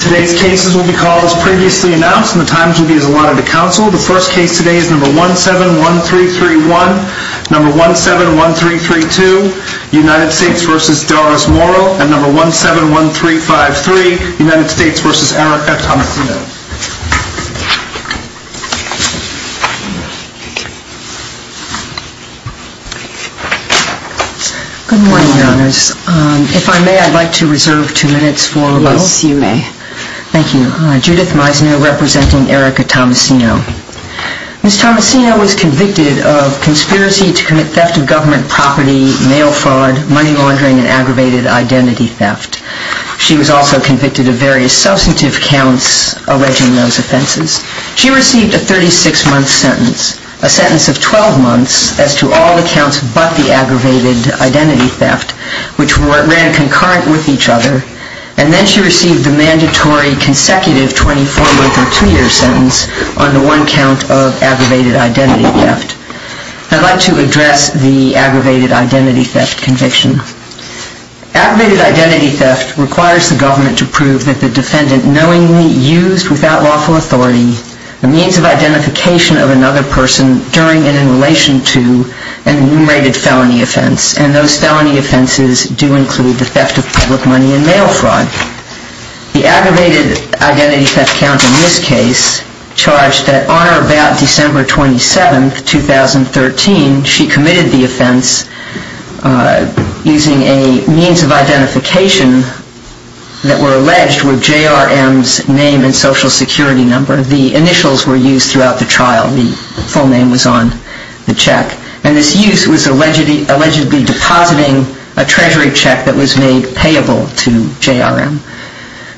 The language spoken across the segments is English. Today's cases will be called as previously announced and the times will be as allotted to counsel. The first case today is No. 171331, No. 171332, United States v. Doris Morel, and No. 171353, United States v. Erica Tomasino. Good morning, Your Honors. If I may, I'd like to reserve two minutes for a moment. Yes, you may. Thank you. Judith Meisner, representing Erica Tomasino. Ms. Tomasino was convicted of conspiracy to commit theft of government property, mail fraud, money laundering, and aggravated identity theft. She was also convicted of various substantive counts alleging those offenses. She received a 36-month sentence, a sentence of 12 months as to all the counts but the aggravated identity theft, which ran concurrent with each other, and then she received the mandatory consecutive 24-month or two-year sentence on the one count of aggravated identity theft. I'd like to address the aggravated identity theft conviction. Aggravated identity theft requires the government to prove that the defendant knowingly used, without lawful authority, the means of identification of another person during and in relation to an enumerated felony offense, and those felony offenses do include the theft of public money and mail fraud. The aggravated identity theft count in this case charged that on or about December 27, 2013, she committed the offense using a means of identification that were alleged were J.R.M.'s name and social security number. The initials were used throughout the trial. The full name was on the check. And this use was allegedly depositing a treasury check that was made payable to J.R.M.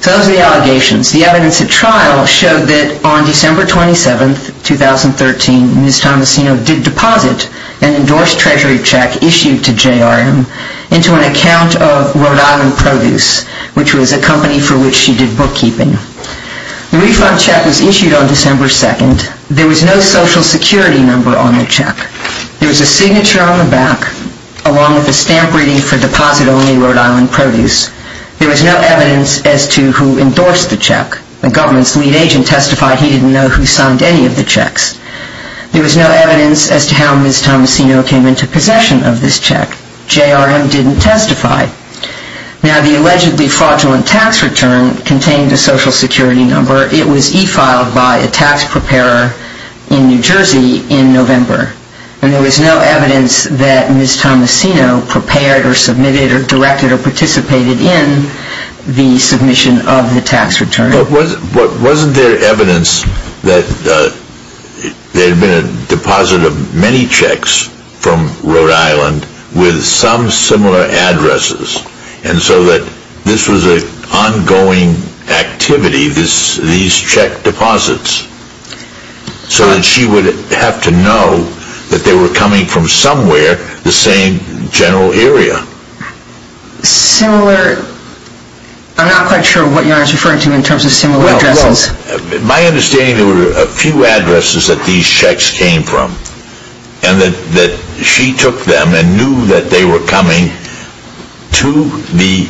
So those are the allegations. The evidence at trial showed that on December 27, 2013, Ms. Tomasino did deposit an endorsed treasury check issued to J.R.M. into an account of Rhode Island Produce, which was a company for which she did bookkeeping. The refund check was issued on December 2nd. There was no social security number on the check. There was a signature on the back, along with a stamp reading for deposit only Rhode Island Produce. There was no evidence as to who endorsed the check. The government's lead agent testified he didn't know who signed any of the checks. There was no evidence as to how Ms. Tomasino came into possession of this check. J.R.M. didn't testify. Now, the allegedly fraudulent tax return contained a social security number. It was e-filed by a tax preparer in New Jersey in November. And there was no evidence that Ms. Tomasino prepared or submitted or directed or participated in the submission of the tax return. But wasn't there evidence that there had been a deposit of many checks from Rhode Island with some similar addresses, and so that this was an ongoing activity, these check deposits, so that she would have to know that they were coming from somewhere, the same general area? Similar? I'm not quite sure what you're referring to in terms of similar addresses. Well, my understanding is there were a few addresses that these checks came from, and that she took them and knew that they were coming to the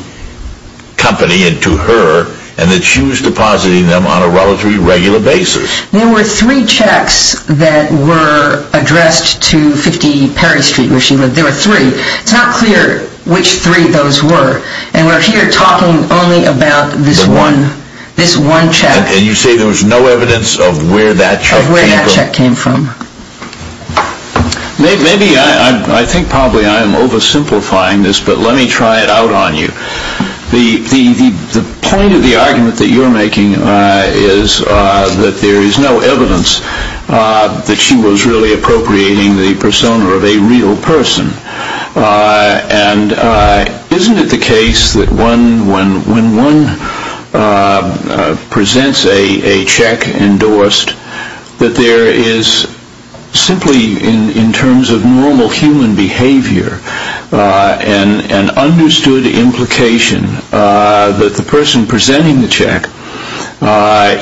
company and to her, and that she was depositing them on a relatively regular basis. There were three checks that were addressed to 50 Perry Street, where she lived. There were three. It's not clear which three those were. And we're here talking only about this one, this one check. And you say there was no evidence of where that check came from? Of where that check came from. Maybe, I think probably I'm oversimplifying this, but let me try it out on you. The point of the argument that you're making is that there is no evidence that she was really appropriating the persona of a real person. And isn't it the case that when one presents a check endorsed, that there is simply in terms of normal human behavior, an understood implication that the person presenting the check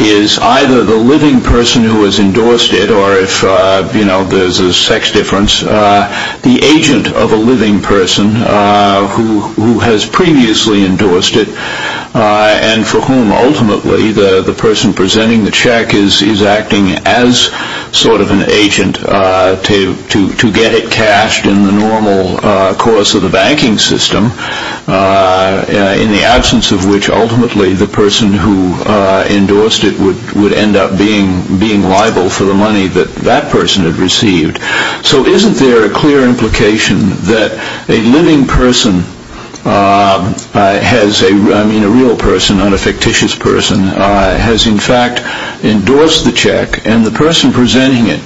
is either the living person who has endorsed it, or if there's a sex difference, the agent of a living person who has previously endorsed it, and for whom ultimately the person presenting the check is acting as sort of an agent to get it cashed in the normal course of the banking system, in the absence of which ultimately the person who endorsed it would end up being liable for the money that that person had received. So isn't there a clear implication that a living person has, I mean a real person, not a fictitious person, has in fact endorsed the check, and the person presenting it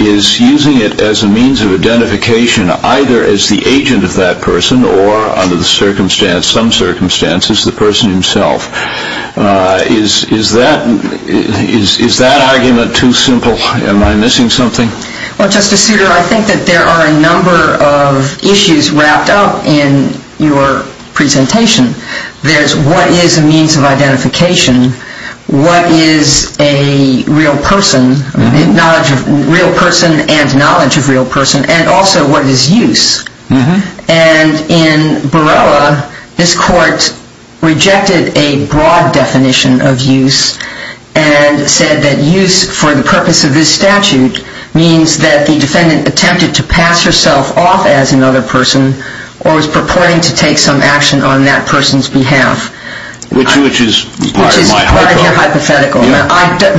is using it as a means of identification either as the agent of that person or under the circumstance, some circumstances, the person himself. Is that argument too simple? Am I missing something? Well, Justice Souter, I think that there are a number of issues wrapped up in your presentation. There's what is a means of identification, what is a real person, real person and knowledge of real person, and also what is use. And in Borrella, this court rejected a broad definition of use and said that use for the purpose of this statute means that the defendant attempted to pass herself off as another person or was purporting to take some action on that person's behalf. Which is part of my hypothetical.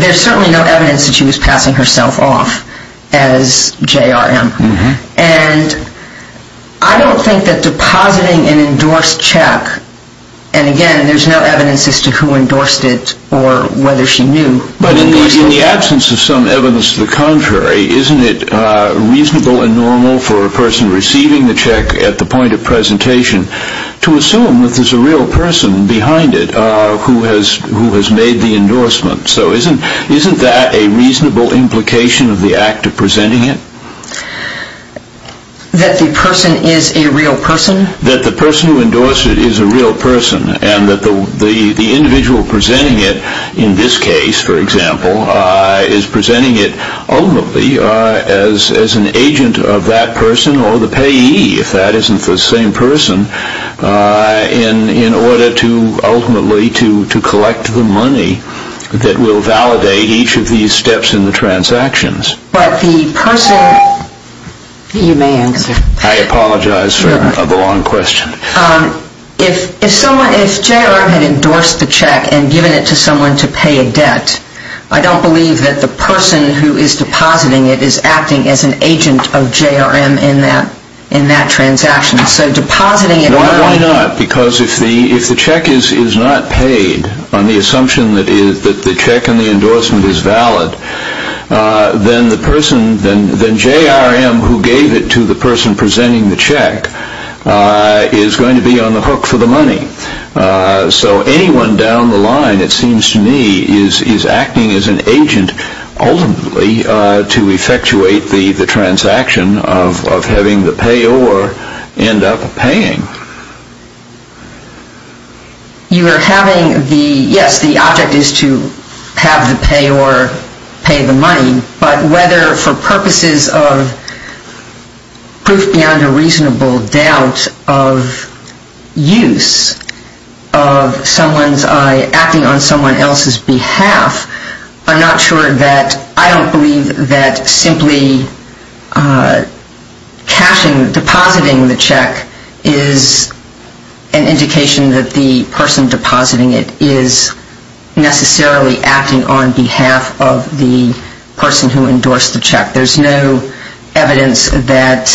There's certainly no evidence that she was passing herself off as J.R.M. And I don't think that depositing an endorsed check, and again, there's no evidence as to who endorsed it or whether she knew. But in the absence of some evidence to the contrary, isn't it reasonable and normal for a person receiving the check at the point of presentation to assume that there's a real person behind it who has made the endorsement? So isn't that a reasonable implication of the act of presenting it? That the person is a real person? That the person who endorsed it is a real person and that the individual presenting it in this case, for example, is presenting it ultimately as an agent of that person or the payee, if that isn't the same person, in order to ultimately to collect the money that will validate each of these steps in the transactions. But the person... You may answer. I apologize for the long question. If J.R.M. had endorsed the check and given it to someone to pay a debt, I don't believe that the person who is depositing it is acting as an agent of J.R.M. in that transaction. Why not? Because if the check is not paid on the assumption that the check and the endorsement is valid, then J.R.M. who gave it to the person presenting the check is going to be on the hook for the money. So anyone down the line, it seems to me, is acting as an agent ultimately to effectuate the transaction of having the payor end up paying. You are having the... Yes, the object is to have the payor pay the money, but whether for purposes of proof beyond a reasonable doubt of use of someone's... an indication that the person depositing it is necessarily acting on behalf of the person who endorsed the check. There's no evidence that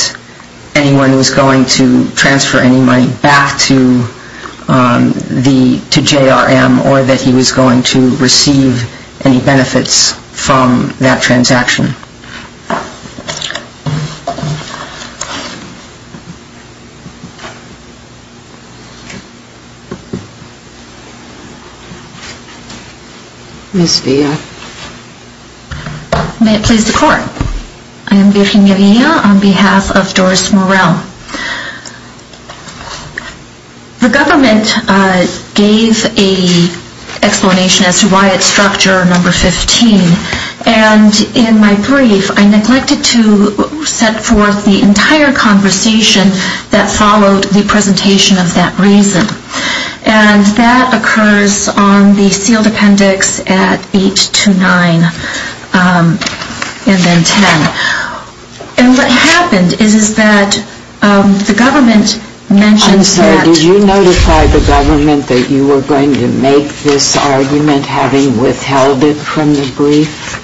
anyone was going to transfer any money back to J.R.M. or that he was going to receive any benefits from that transaction. Ms. Villa. May it please the court. I am Virginia Villa on behalf of Doris Morel. The government gave an explanation as to why it struck J.R.M. 15, and in my brief, I neglected to set forth the entire conversation that followed the presentation of that reason. And that occurs on the sealed appendix at 8 to 9 and then 10. And what happened is that the government mentioned that... I'm sorry, did you notify the government that you were going to make this argument having withheld it from the brief?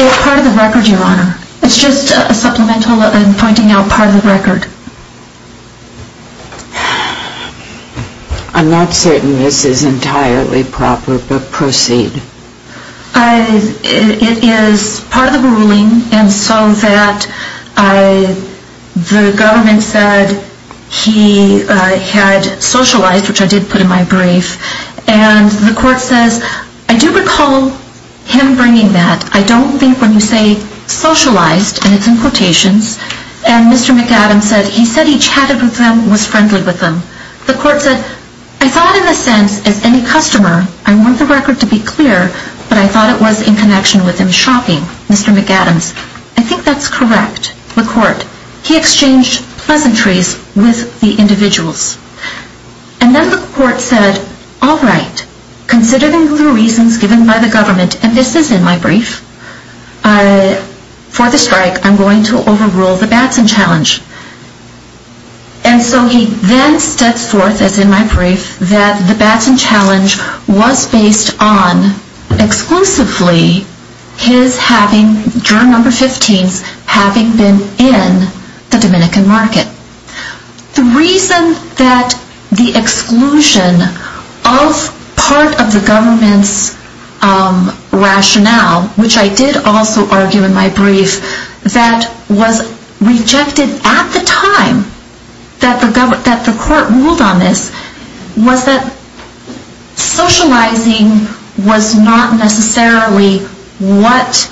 It's part of the record, Your Honor. It's just a supplemental and pointing out part of the record. I'm not certain this is entirely proper, but proceed. It is part of the ruling, and so that the government said he had socialized, which I did put in my brief. And the court says, I do recall him bringing that. I don't think when you say socialized, and it's in quotations, and Mr. McAdams said he said he chatted with them, was friendly with them. The court said, I thought in a sense, as any customer, I want the record to be clear, but I thought it was in connection with him shopping, Mr. McAdams. I think that's correct, the court. He exchanged pleasantries with the individuals. And then the court said, all right, considering the reasons given by the government, and this is in my brief, for the strike, I'm going to overrule the Batson challenge. And so he then steps forth, as in my brief, that the Batson challenge was based on exclusively his having, juror number 15, having been in the Dominican market. The reason that the exclusion of part of the government's rationale, which I did also argue in my brief, that was rejected at the time that the court ruled on this, was that socializing was not necessarily what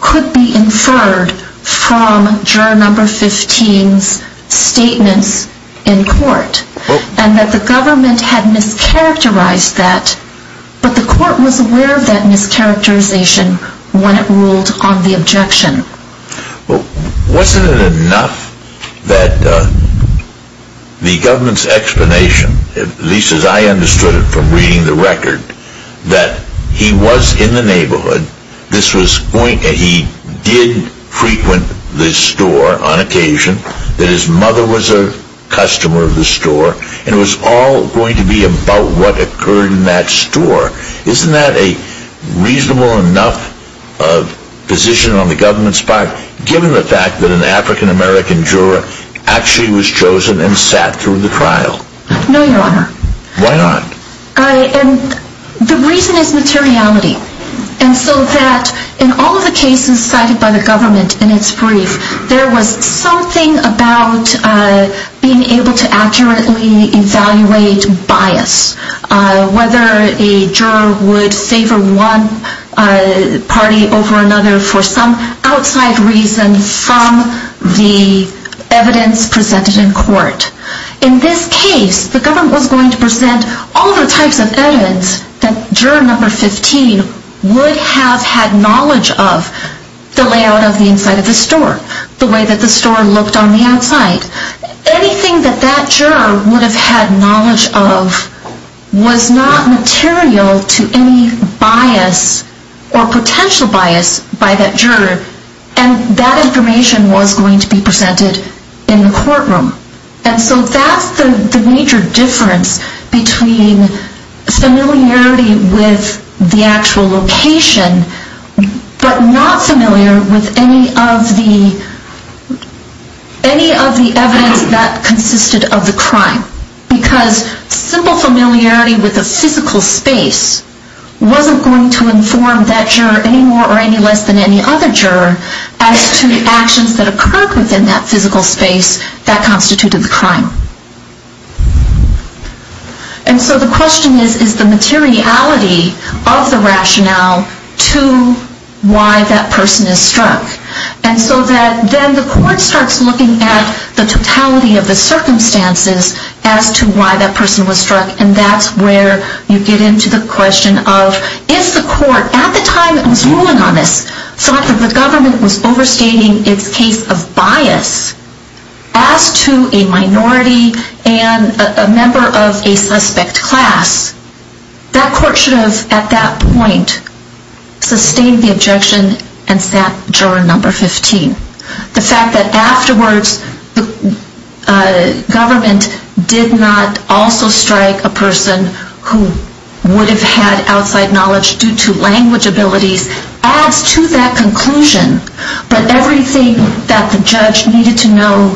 could be inferred from juror number 15's statements in court. And that the government had mischaracterized that, but the court was aware of that mischaracterization when it ruled on the objection. Well, wasn't it enough that the government's explanation, at least as I understood it from reading the record, that he was in the neighborhood, this was going, he did frequent the store on occasion, that his mother was a customer of the store, and it was all going to be about what occurred in that store. Isn't that a reasonable enough position on the government's part, given the fact that an African American juror actually was chosen and sat through the trial? No, your honor. Why not? And the reason is materiality. And so that in all of the cases cited by the government in its brief, there was something about being able to accurately evaluate bias. Whether a juror would favor one party over another for some outside reason from the evidence presented in court. In this case, the government was going to present all the types of evidence that juror number 15 would have had knowledge of the layout of the inside of the store, the way that the store looked on the outside. Anything that that juror would have had knowledge of was not material to any bias or potential bias by that juror, and that information was going to be presented in the courtroom. And so that's the major difference between familiarity with the actual location, but not familiar with any of the evidence that consisted of the crime. Because simple familiarity with a physical space wasn't going to inform that juror any more or any less than any other juror as to the actions that occurred within that physical space that constituted the crime. And so the question is, is the materiality of the rationale to why that person is struck? And so that then the court starts looking at the totality of the circumstances as to why that person was struck, and that's where you get into the question of, if the court at the time that was ruling on this thought that the government was overstating its case of bias, as to a minority and a member of a suspect class, that court should have at that point sustained the objection and sat juror number 15. The fact that afterwards the government did not also strike a person who would have had outside knowledge due to language abilities adds to that conclusion. But everything that the judge needed to know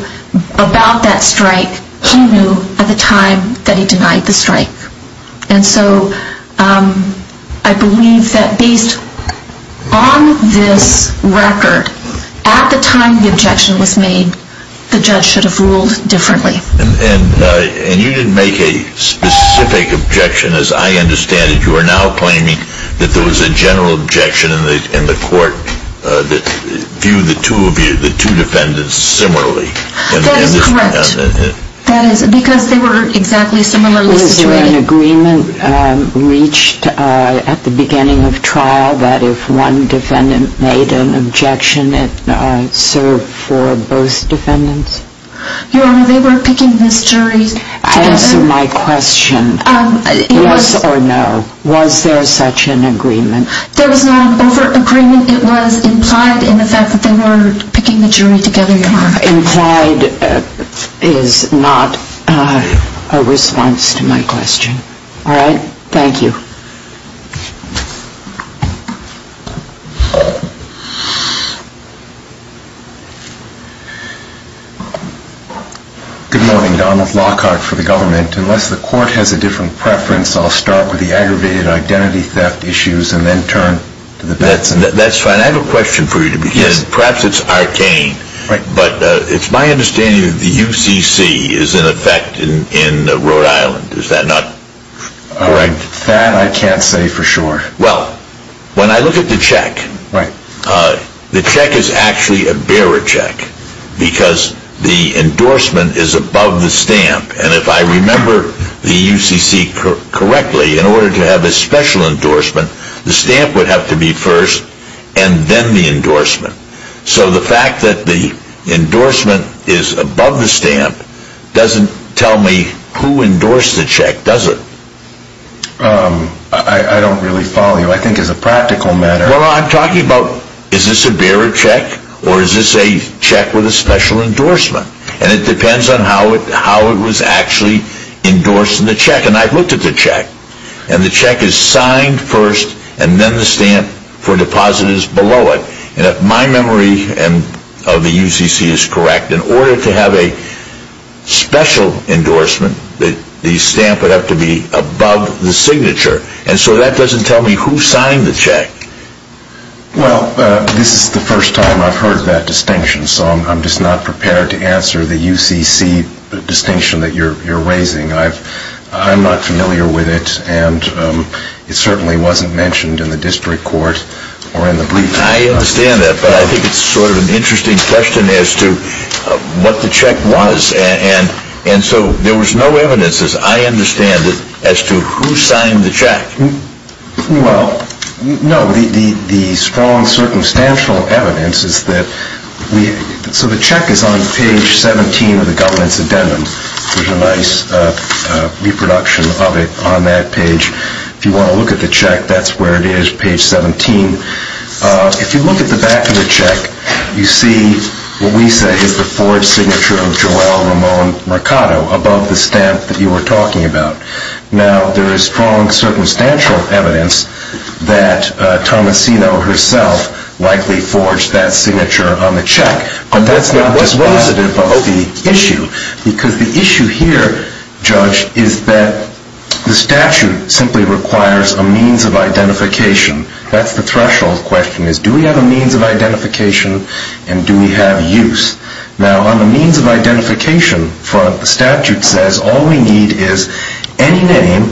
about that strike, he knew at the time that he denied the strike. And so I believe that based on this record, at the time the objection was made, the judge should have ruled differently. And you didn't make a specific objection, as I understand it. You are now claiming that there was a general objection in the court that viewed the two defendants similarly. That is correct. Because they were exactly similar. Was there an agreement reached at the beginning of trial that if one defendant made an objection, it served for both defendants? Your Honor, they were picking this jury together. Answer my question. Yes or no. Was there such an agreement? There was not an overt agreement. It was implied in the fact that they were picking the jury together, Your Honor. Implied is not a response to my question. All right. Thank you. Good morning, Donald. Lockhart for the government. Unless the court has a different preference, I'll start with the aggravated identity theft issues and then turn to the defense. That's fine. I have a question for you to begin. Perhaps it's arcane, but it's my understanding that the UCC is in effect in Rhode Island. Is that not correct? That I can't say for sure. Well, when I look at the check, the check is actually a bearer check. Because the endorsement is above the stamp. And if I remember the UCC correctly, in order to have a special endorsement, the stamp would have to be first and then the endorsement. So the fact that the endorsement is above the stamp doesn't tell me who endorsed the check, does it? I don't really follow you. I think as a practical matter. Well, I'm talking about is this a bearer check or is this a check with a special endorsement? And it depends on how it was actually endorsed in the check. And I've looked at the check. And the check is signed first and then the stamp for deposit is below it. And if my memory of the UCC is correct, in order to have a special endorsement, the stamp would have to be above the signature. And so that doesn't tell me who signed the check. Well, this is the first time I've heard that distinction. So I'm just not prepared to answer the UCC distinction that you're raising. I'm not familiar with it. And it certainly wasn't mentioned in the district court or in the briefing. I understand that. But I think it's sort of an interesting question as to what the check was. And so there was no evidence, as I understand it, as to who signed the check. Well, no. The strong circumstantial evidence is that we – so the check is on page 17 of the governance addendum. There's a nice reproduction of it on that page. If you want to look at the check, that's where it is, page 17. If you look at the back of the check, you see what we say is the forged signature of Joelle Ramon Mercado above the stamp that you were talking about. Now, there is strong circumstantial evidence that Tomasino herself likely forged that signature on the check. But that's not dispositive of the issue because the issue here, Judge, is that the statute simply requires a means of identification. That's the threshold question, is do we have a means of identification and do we have use? Now, on the means of identification front, the statute says all we need is any name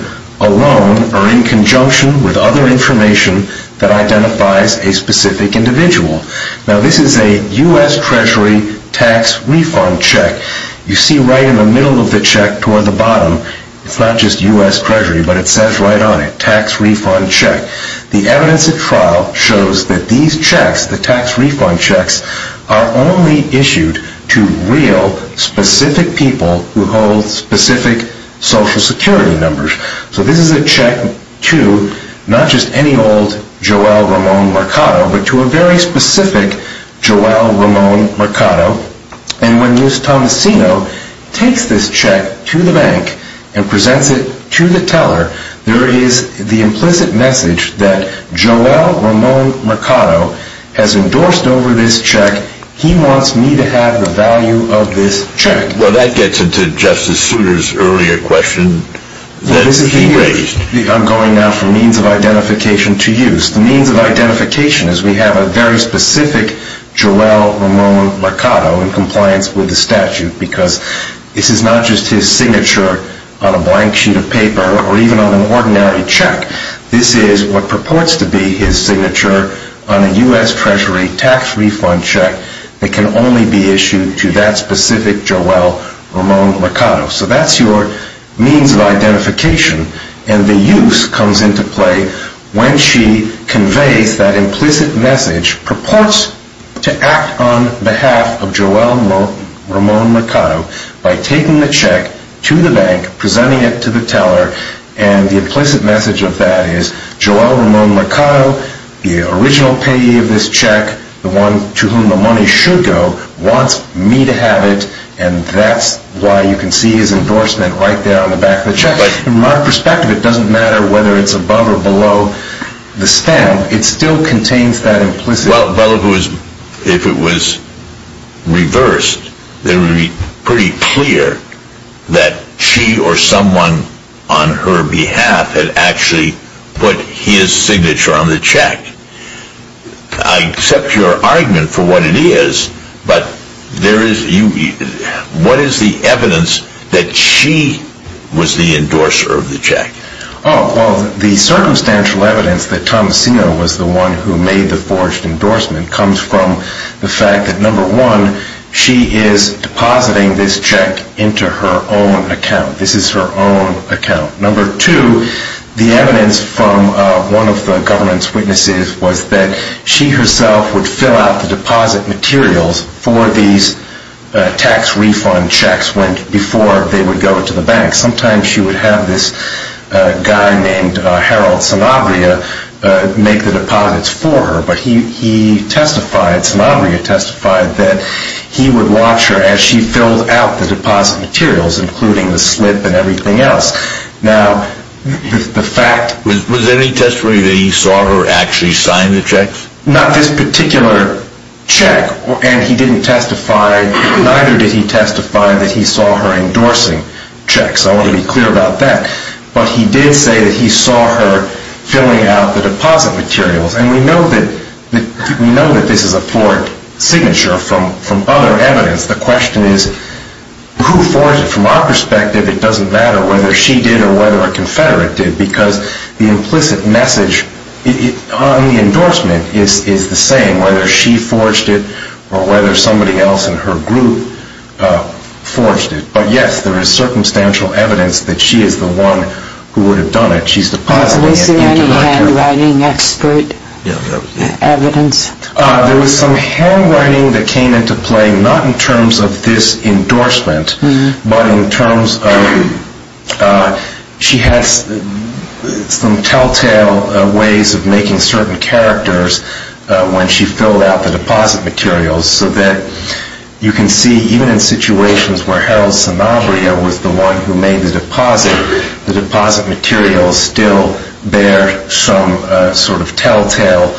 alone or in conjunction with other information that identifies a specific individual. Now, this is a U.S. Treasury tax refund check. You see right in the middle of the check toward the bottom, it's not just U.S. Treasury, but it says right on it, tax refund check. The evidence at trial shows that these checks, the tax refund checks, are only issued to real, specific people who hold specific Social Security numbers. So this is a check to not just any old Joelle Ramon Mercado, but to a very specific Joelle Ramon Mercado. And when Luce Tomasino takes this check to the bank and presents it to the teller, there is the implicit message that Joelle Ramon Mercado has endorsed over this check. He wants me to have the value of this check. Well, that gets into Justice Souter's earlier question that he raised. I'm going now from means of identification to use. The means of identification is we have a very specific Joelle Ramon Mercado in compliance with the statute because this is not just his signature on a blank sheet of paper or even on an ordinary check. This is what purports to be his signature on a U.S. Treasury tax refund check that can only be issued to that specific Joelle Ramon Mercado. So that's your means of identification. And the use comes into play when she conveys that implicit message, purports to act on behalf of Joelle Ramon Mercado by taking the check to the bank, presenting it to the teller. And the implicit message of that is Joelle Ramon Mercado, the original payee of this check, the one to whom the money should go, wants me to have it. And that's why you can see his endorsement right there on the back of the check. In my perspective, it doesn't matter whether it's above or below the stamp. It still contains that implicit message. Well, if it was reversed, it would be pretty clear that she or someone on her behalf had actually put his signature on the check. I accept your argument for what it is, but what is the evidence that she was the endorser of the check? Well, the circumstantial evidence that Tom Asino was the one who made the forged endorsement comes from the fact that, number one, she is depositing this check into her own account. This is her own account. Number two, the evidence from one of the government's witnesses was that she herself would fill out the deposit materials for these tax refund checks before they would go to the bank. Sometimes she would have this guy named Harold Sanabria make the deposits for her, but he testified, Sanabria testified, that he would watch her as she filled out the deposit materials, including the slip and everything else. Was there any testimony that he saw her actually sign the checks? Not this particular check, and neither did he testify that he saw her endorsing checks. I want to be clear about that. But he did say that he saw her filling out the deposit materials, and we know that this is a forged signature from other evidence. The question is, who forged it? From our perspective, it doesn't matter whether she did or whether a confederate did, because the implicit message on the endorsement is the same, whether she forged it or whether somebody else in her group forged it. But, yes, there is circumstantial evidence that she is the one who would have done it. She's depositing it into her account. Is there any handwriting expert evidence? There was some handwriting that came into play, not in terms of this endorsement, but in terms of she has some telltale ways of making certain characters when she filled out the deposit materials, so that you can see even in situations where Harold Sanabria was the one who made the deposit, the deposit materials still bear some sort of telltale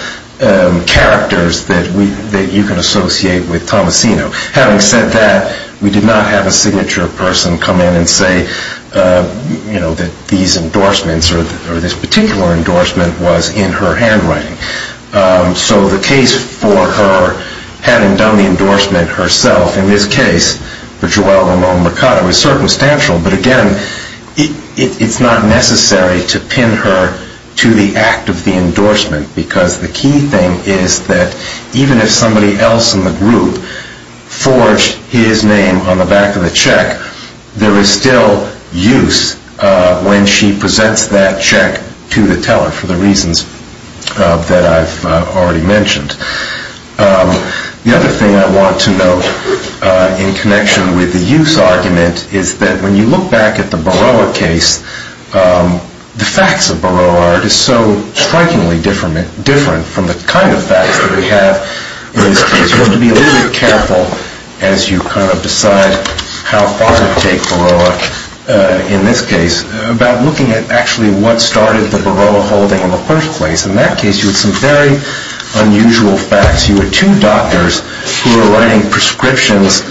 characters that you can associate with Tomasino. Having said that, we did not have a signature person come in and say that these endorsements or this particular endorsement was in her handwriting. So the case for her having done the endorsement herself, in this case, for Joelle Ramon Mercado, is circumstantial, but again, it's not necessary to pin her to the act of the endorsement, because the key thing is that even if somebody else in the group forged his name on the back of the check, there is still use when she presents that check to the teller, for the reasons that I've already mentioned. The other thing I want to note in connection with the use argument is that when you look back at the Baroah case, the facts of Baroah are just so strikingly different from the kind of facts that we have in this case. With some very unusual facts, you had two doctors who were writing prescriptions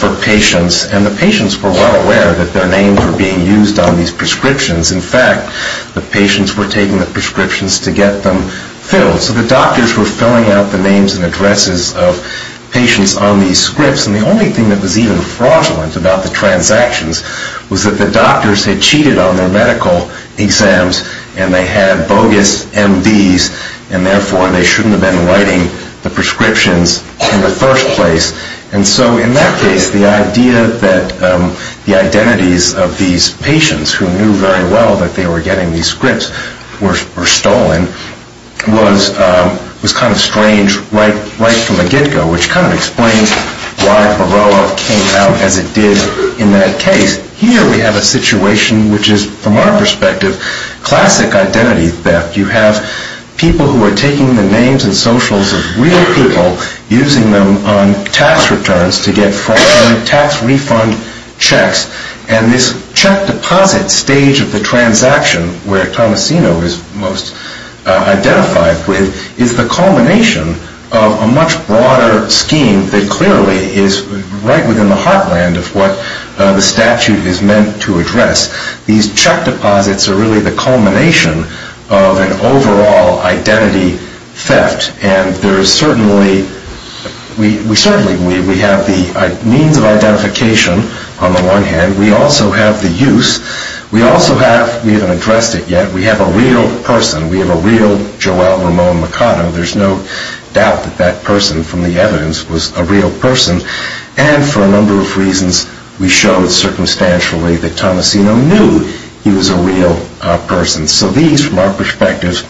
for patients, and the patients were well aware that their names were being used on these prescriptions. In fact, the patients were taking the prescriptions to get them filled, so the doctors were filling out the names and addresses of patients on these scripts, and the only thing that was even fraudulent about the transactions was that the doctors had cheated on their medical exams, and they had bogus MDs, and therefore they shouldn't have been writing the prescriptions in the first place. And so in that case, the idea that the identities of these patients, who knew very well that they were getting these scripts, were stolen was kind of strange right from the get-go, which kind of explains why Baroah came out as it did in that case. Here we have a situation which is, from our perspective, classic identity theft. You have people who are taking the names and socials of real people, using them on tax returns to get fraudulent tax refund checks, and this check deposit stage of the transaction, where Tomasino is most identified with, is the culmination of a much broader scheme that clearly is right within the heartland of what the statute is meant to address. These check deposits are really the culmination of an overall identity theft, and we certainly have the means of identification on the one hand, we also have the use, we also have, we haven't addressed it yet, we have a real person, we have a real Joel Ramon Mercado, there's no doubt that that person from the evidence was a real person, and for a number of reasons, we showed circumstantially that Tomasino knew he was a real person. So these, from our perspective,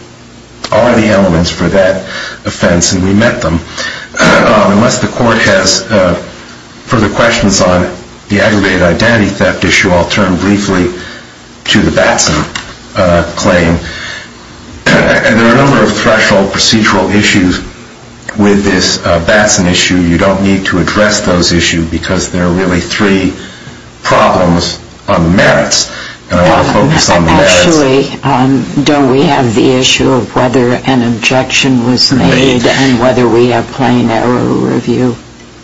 are the elements for that offense, and we met them. Unless the court has further questions on the aggravated identity theft issue, I'll turn briefly to the Batson claim. There are a number of threshold procedural issues with this Batson issue. You don't need to address those issues because there are really three problems on the merits, and I want to focus on the merits. Actually, don't we have the issue of whether an objection was made and whether we have plain error review?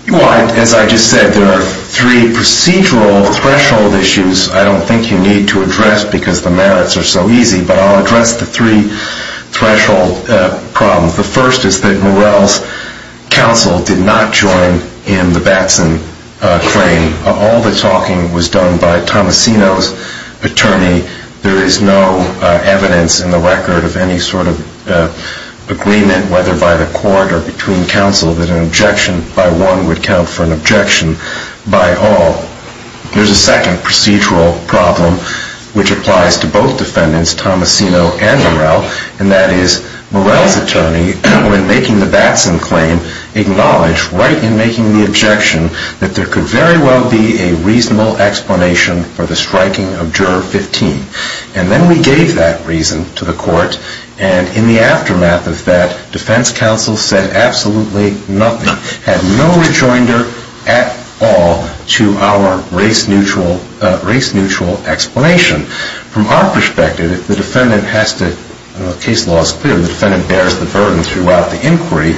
Well, as I just said, there are three procedural threshold issues I don't think you need to address because the merits are so easy, but I'll address the three threshold problems. The first is that Morell's counsel did not join in the Batson claim. All the talking was done by Tomasino's attorney. There is no evidence in the record of any sort of agreement, whether by the court or between counsel, that an objection by one would count for an objection by all. There's a second procedural problem which applies to both defendants, Tomasino and Morell, and that is Morell's attorney, when making the Batson claim, acknowledged right in making the objection that there could very well be a reasonable explanation for the striking of Juror 15. And then we gave that reason to the court, and in the aftermath of that, defense counsel said absolutely nothing, had no rejoinder at all to our race-neutral explanation. From our perspective, the defendant has to, the case law is clear, the defendant bears the burden throughout the inquiry.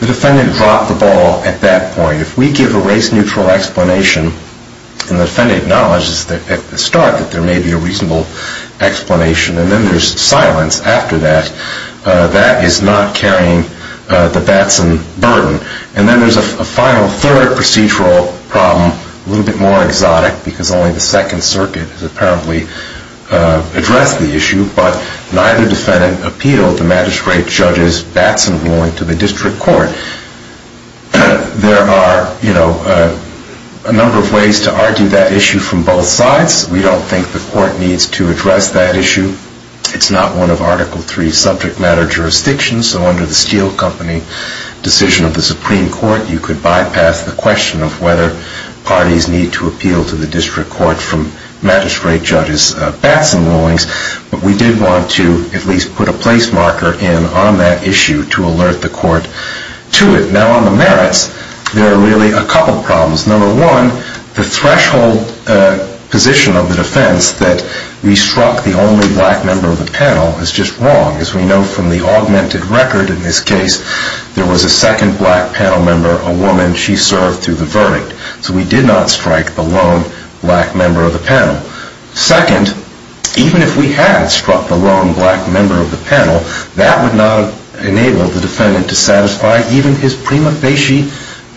The defendant dropped the ball at that point. If we give a race-neutral explanation, and the defendant acknowledges at the start that there may be a reasonable explanation, and then there's silence after that, that is not carrying the Batson burden. And then there's a final third procedural problem, a little bit more exotic, because only the Second Circuit has apparently addressed the issue, but neither defendant appealed the magistrate judge's Batson ruling to the district court. There are a number of ways to argue that issue from both sides. We don't think the court needs to address that issue. It's not one of Article III subject matter jurisdictions, so under the Steel Company decision of the Supreme Court, you could bypass the question of whether parties need to appeal to the district court from magistrate judge's Batson rulings. But we did want to at least put a place marker in on that issue to alert the court to it. Now on the merits, there are really a couple problems. Number one, the threshold position of the defense that we struck the only black member of the panel is just wrong. As we know from the augmented record in this case, there was a second black panel member, a woman, she served through the verdict. So we did not strike the lone black member of the panel. Second, even if we had struck the lone black member of the panel, that would not have enabled the defendant to satisfy even his prima facie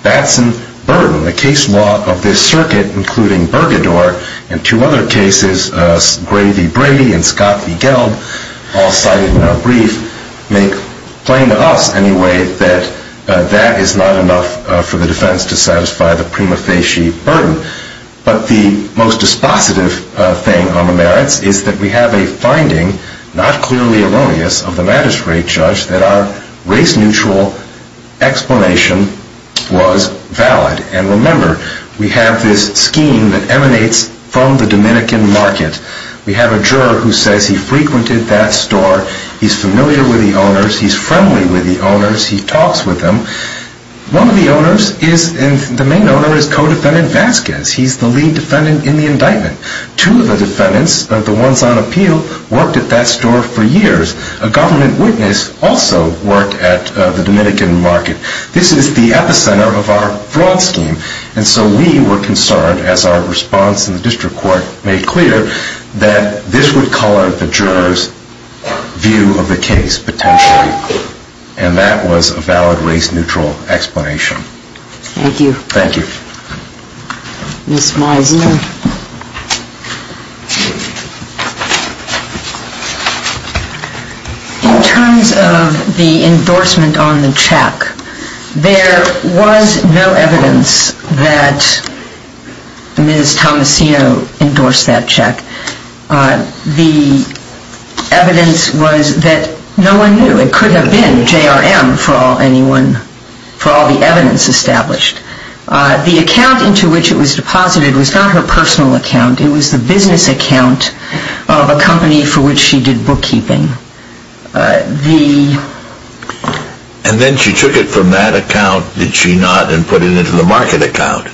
Batson burden. The case law of this circuit, including Burgador and two other cases, Gray v. Brady and Scott v. Gelb, all cited in our brief, make plain to us anyway that that is not enough for the defense to satisfy the prima facie burden. But the most dispositive thing on the merits is that we have a finding, not clearly erroneous, of the magistrate judge that our race neutral explanation was valid. And remember, we have this scheme that emanates from the Dominican market. We have a juror who says he frequented that store, he's familiar with the owners, he's friendly with the owners, he talks with them. One of the owners is, the main owner, is co-defendant Vasquez. He's the lead defendant in the indictment. Two of the defendants, the ones on appeal, worked at that store for years. A government witness also worked at the Dominican market. This is the epicenter of our fraud scheme. And so we were concerned, as our response in the district court made clear, that this would color the juror's view of the case potentially. And that was a valid race neutral explanation. Thank you. Thank you. Ms. Meisner. In terms of the endorsement on the check, there was no evidence that Ms. Tomasino endorsed that check. The evidence was that no one knew. It could have been J.R.M. for all the evidence established. The account into which it was deposited was not her personal account. It was the business account of a company for which she did bookkeeping. And then she took it from that account, did she not, and put it into the market account?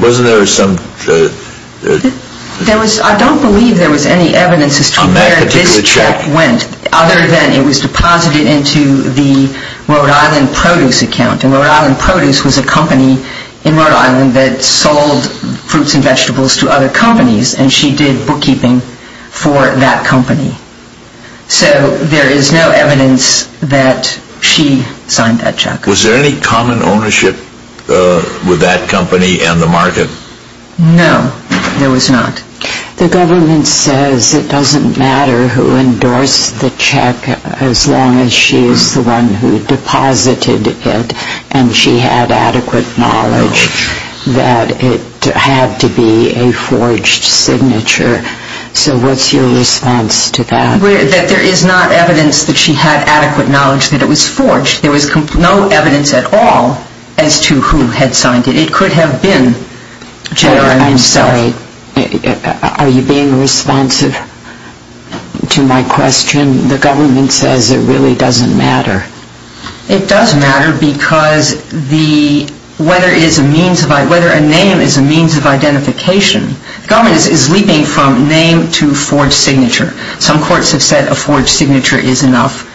Wasn't there some... I don't believe there was any evidence as to where this check went, other than it was deposited into the Rhode Island Produce account. And Rhode Island Produce was a company in Rhode Island that sold fruits and vegetables to other companies, and she did bookkeeping for that company. So there is no evidence that she signed that check. Was there any common ownership with that company and the market? No, there was not. The government says it doesn't matter who endorsed the check as long as she is the one who deposited it and she had adequate knowledge that it had to be a forged signature. So what's your response to that? That there is not evidence that she had adequate knowledge that it was forged. There was no evidence at all as to who had signed it. It could have been J.R.M. I'm sorry, are you being responsive to my question? The government says it really doesn't matter. It does matter because whether a name is a means of identification, the government is leaping from name to forged signature. Some courts have said a forged signature is enough,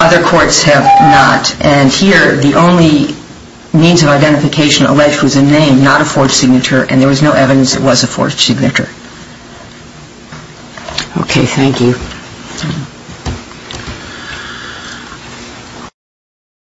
other courts have not, and here the only means of identification alleged was a name, not a forged signature, and there was no evidence it was a forged signature. Okay, thank you.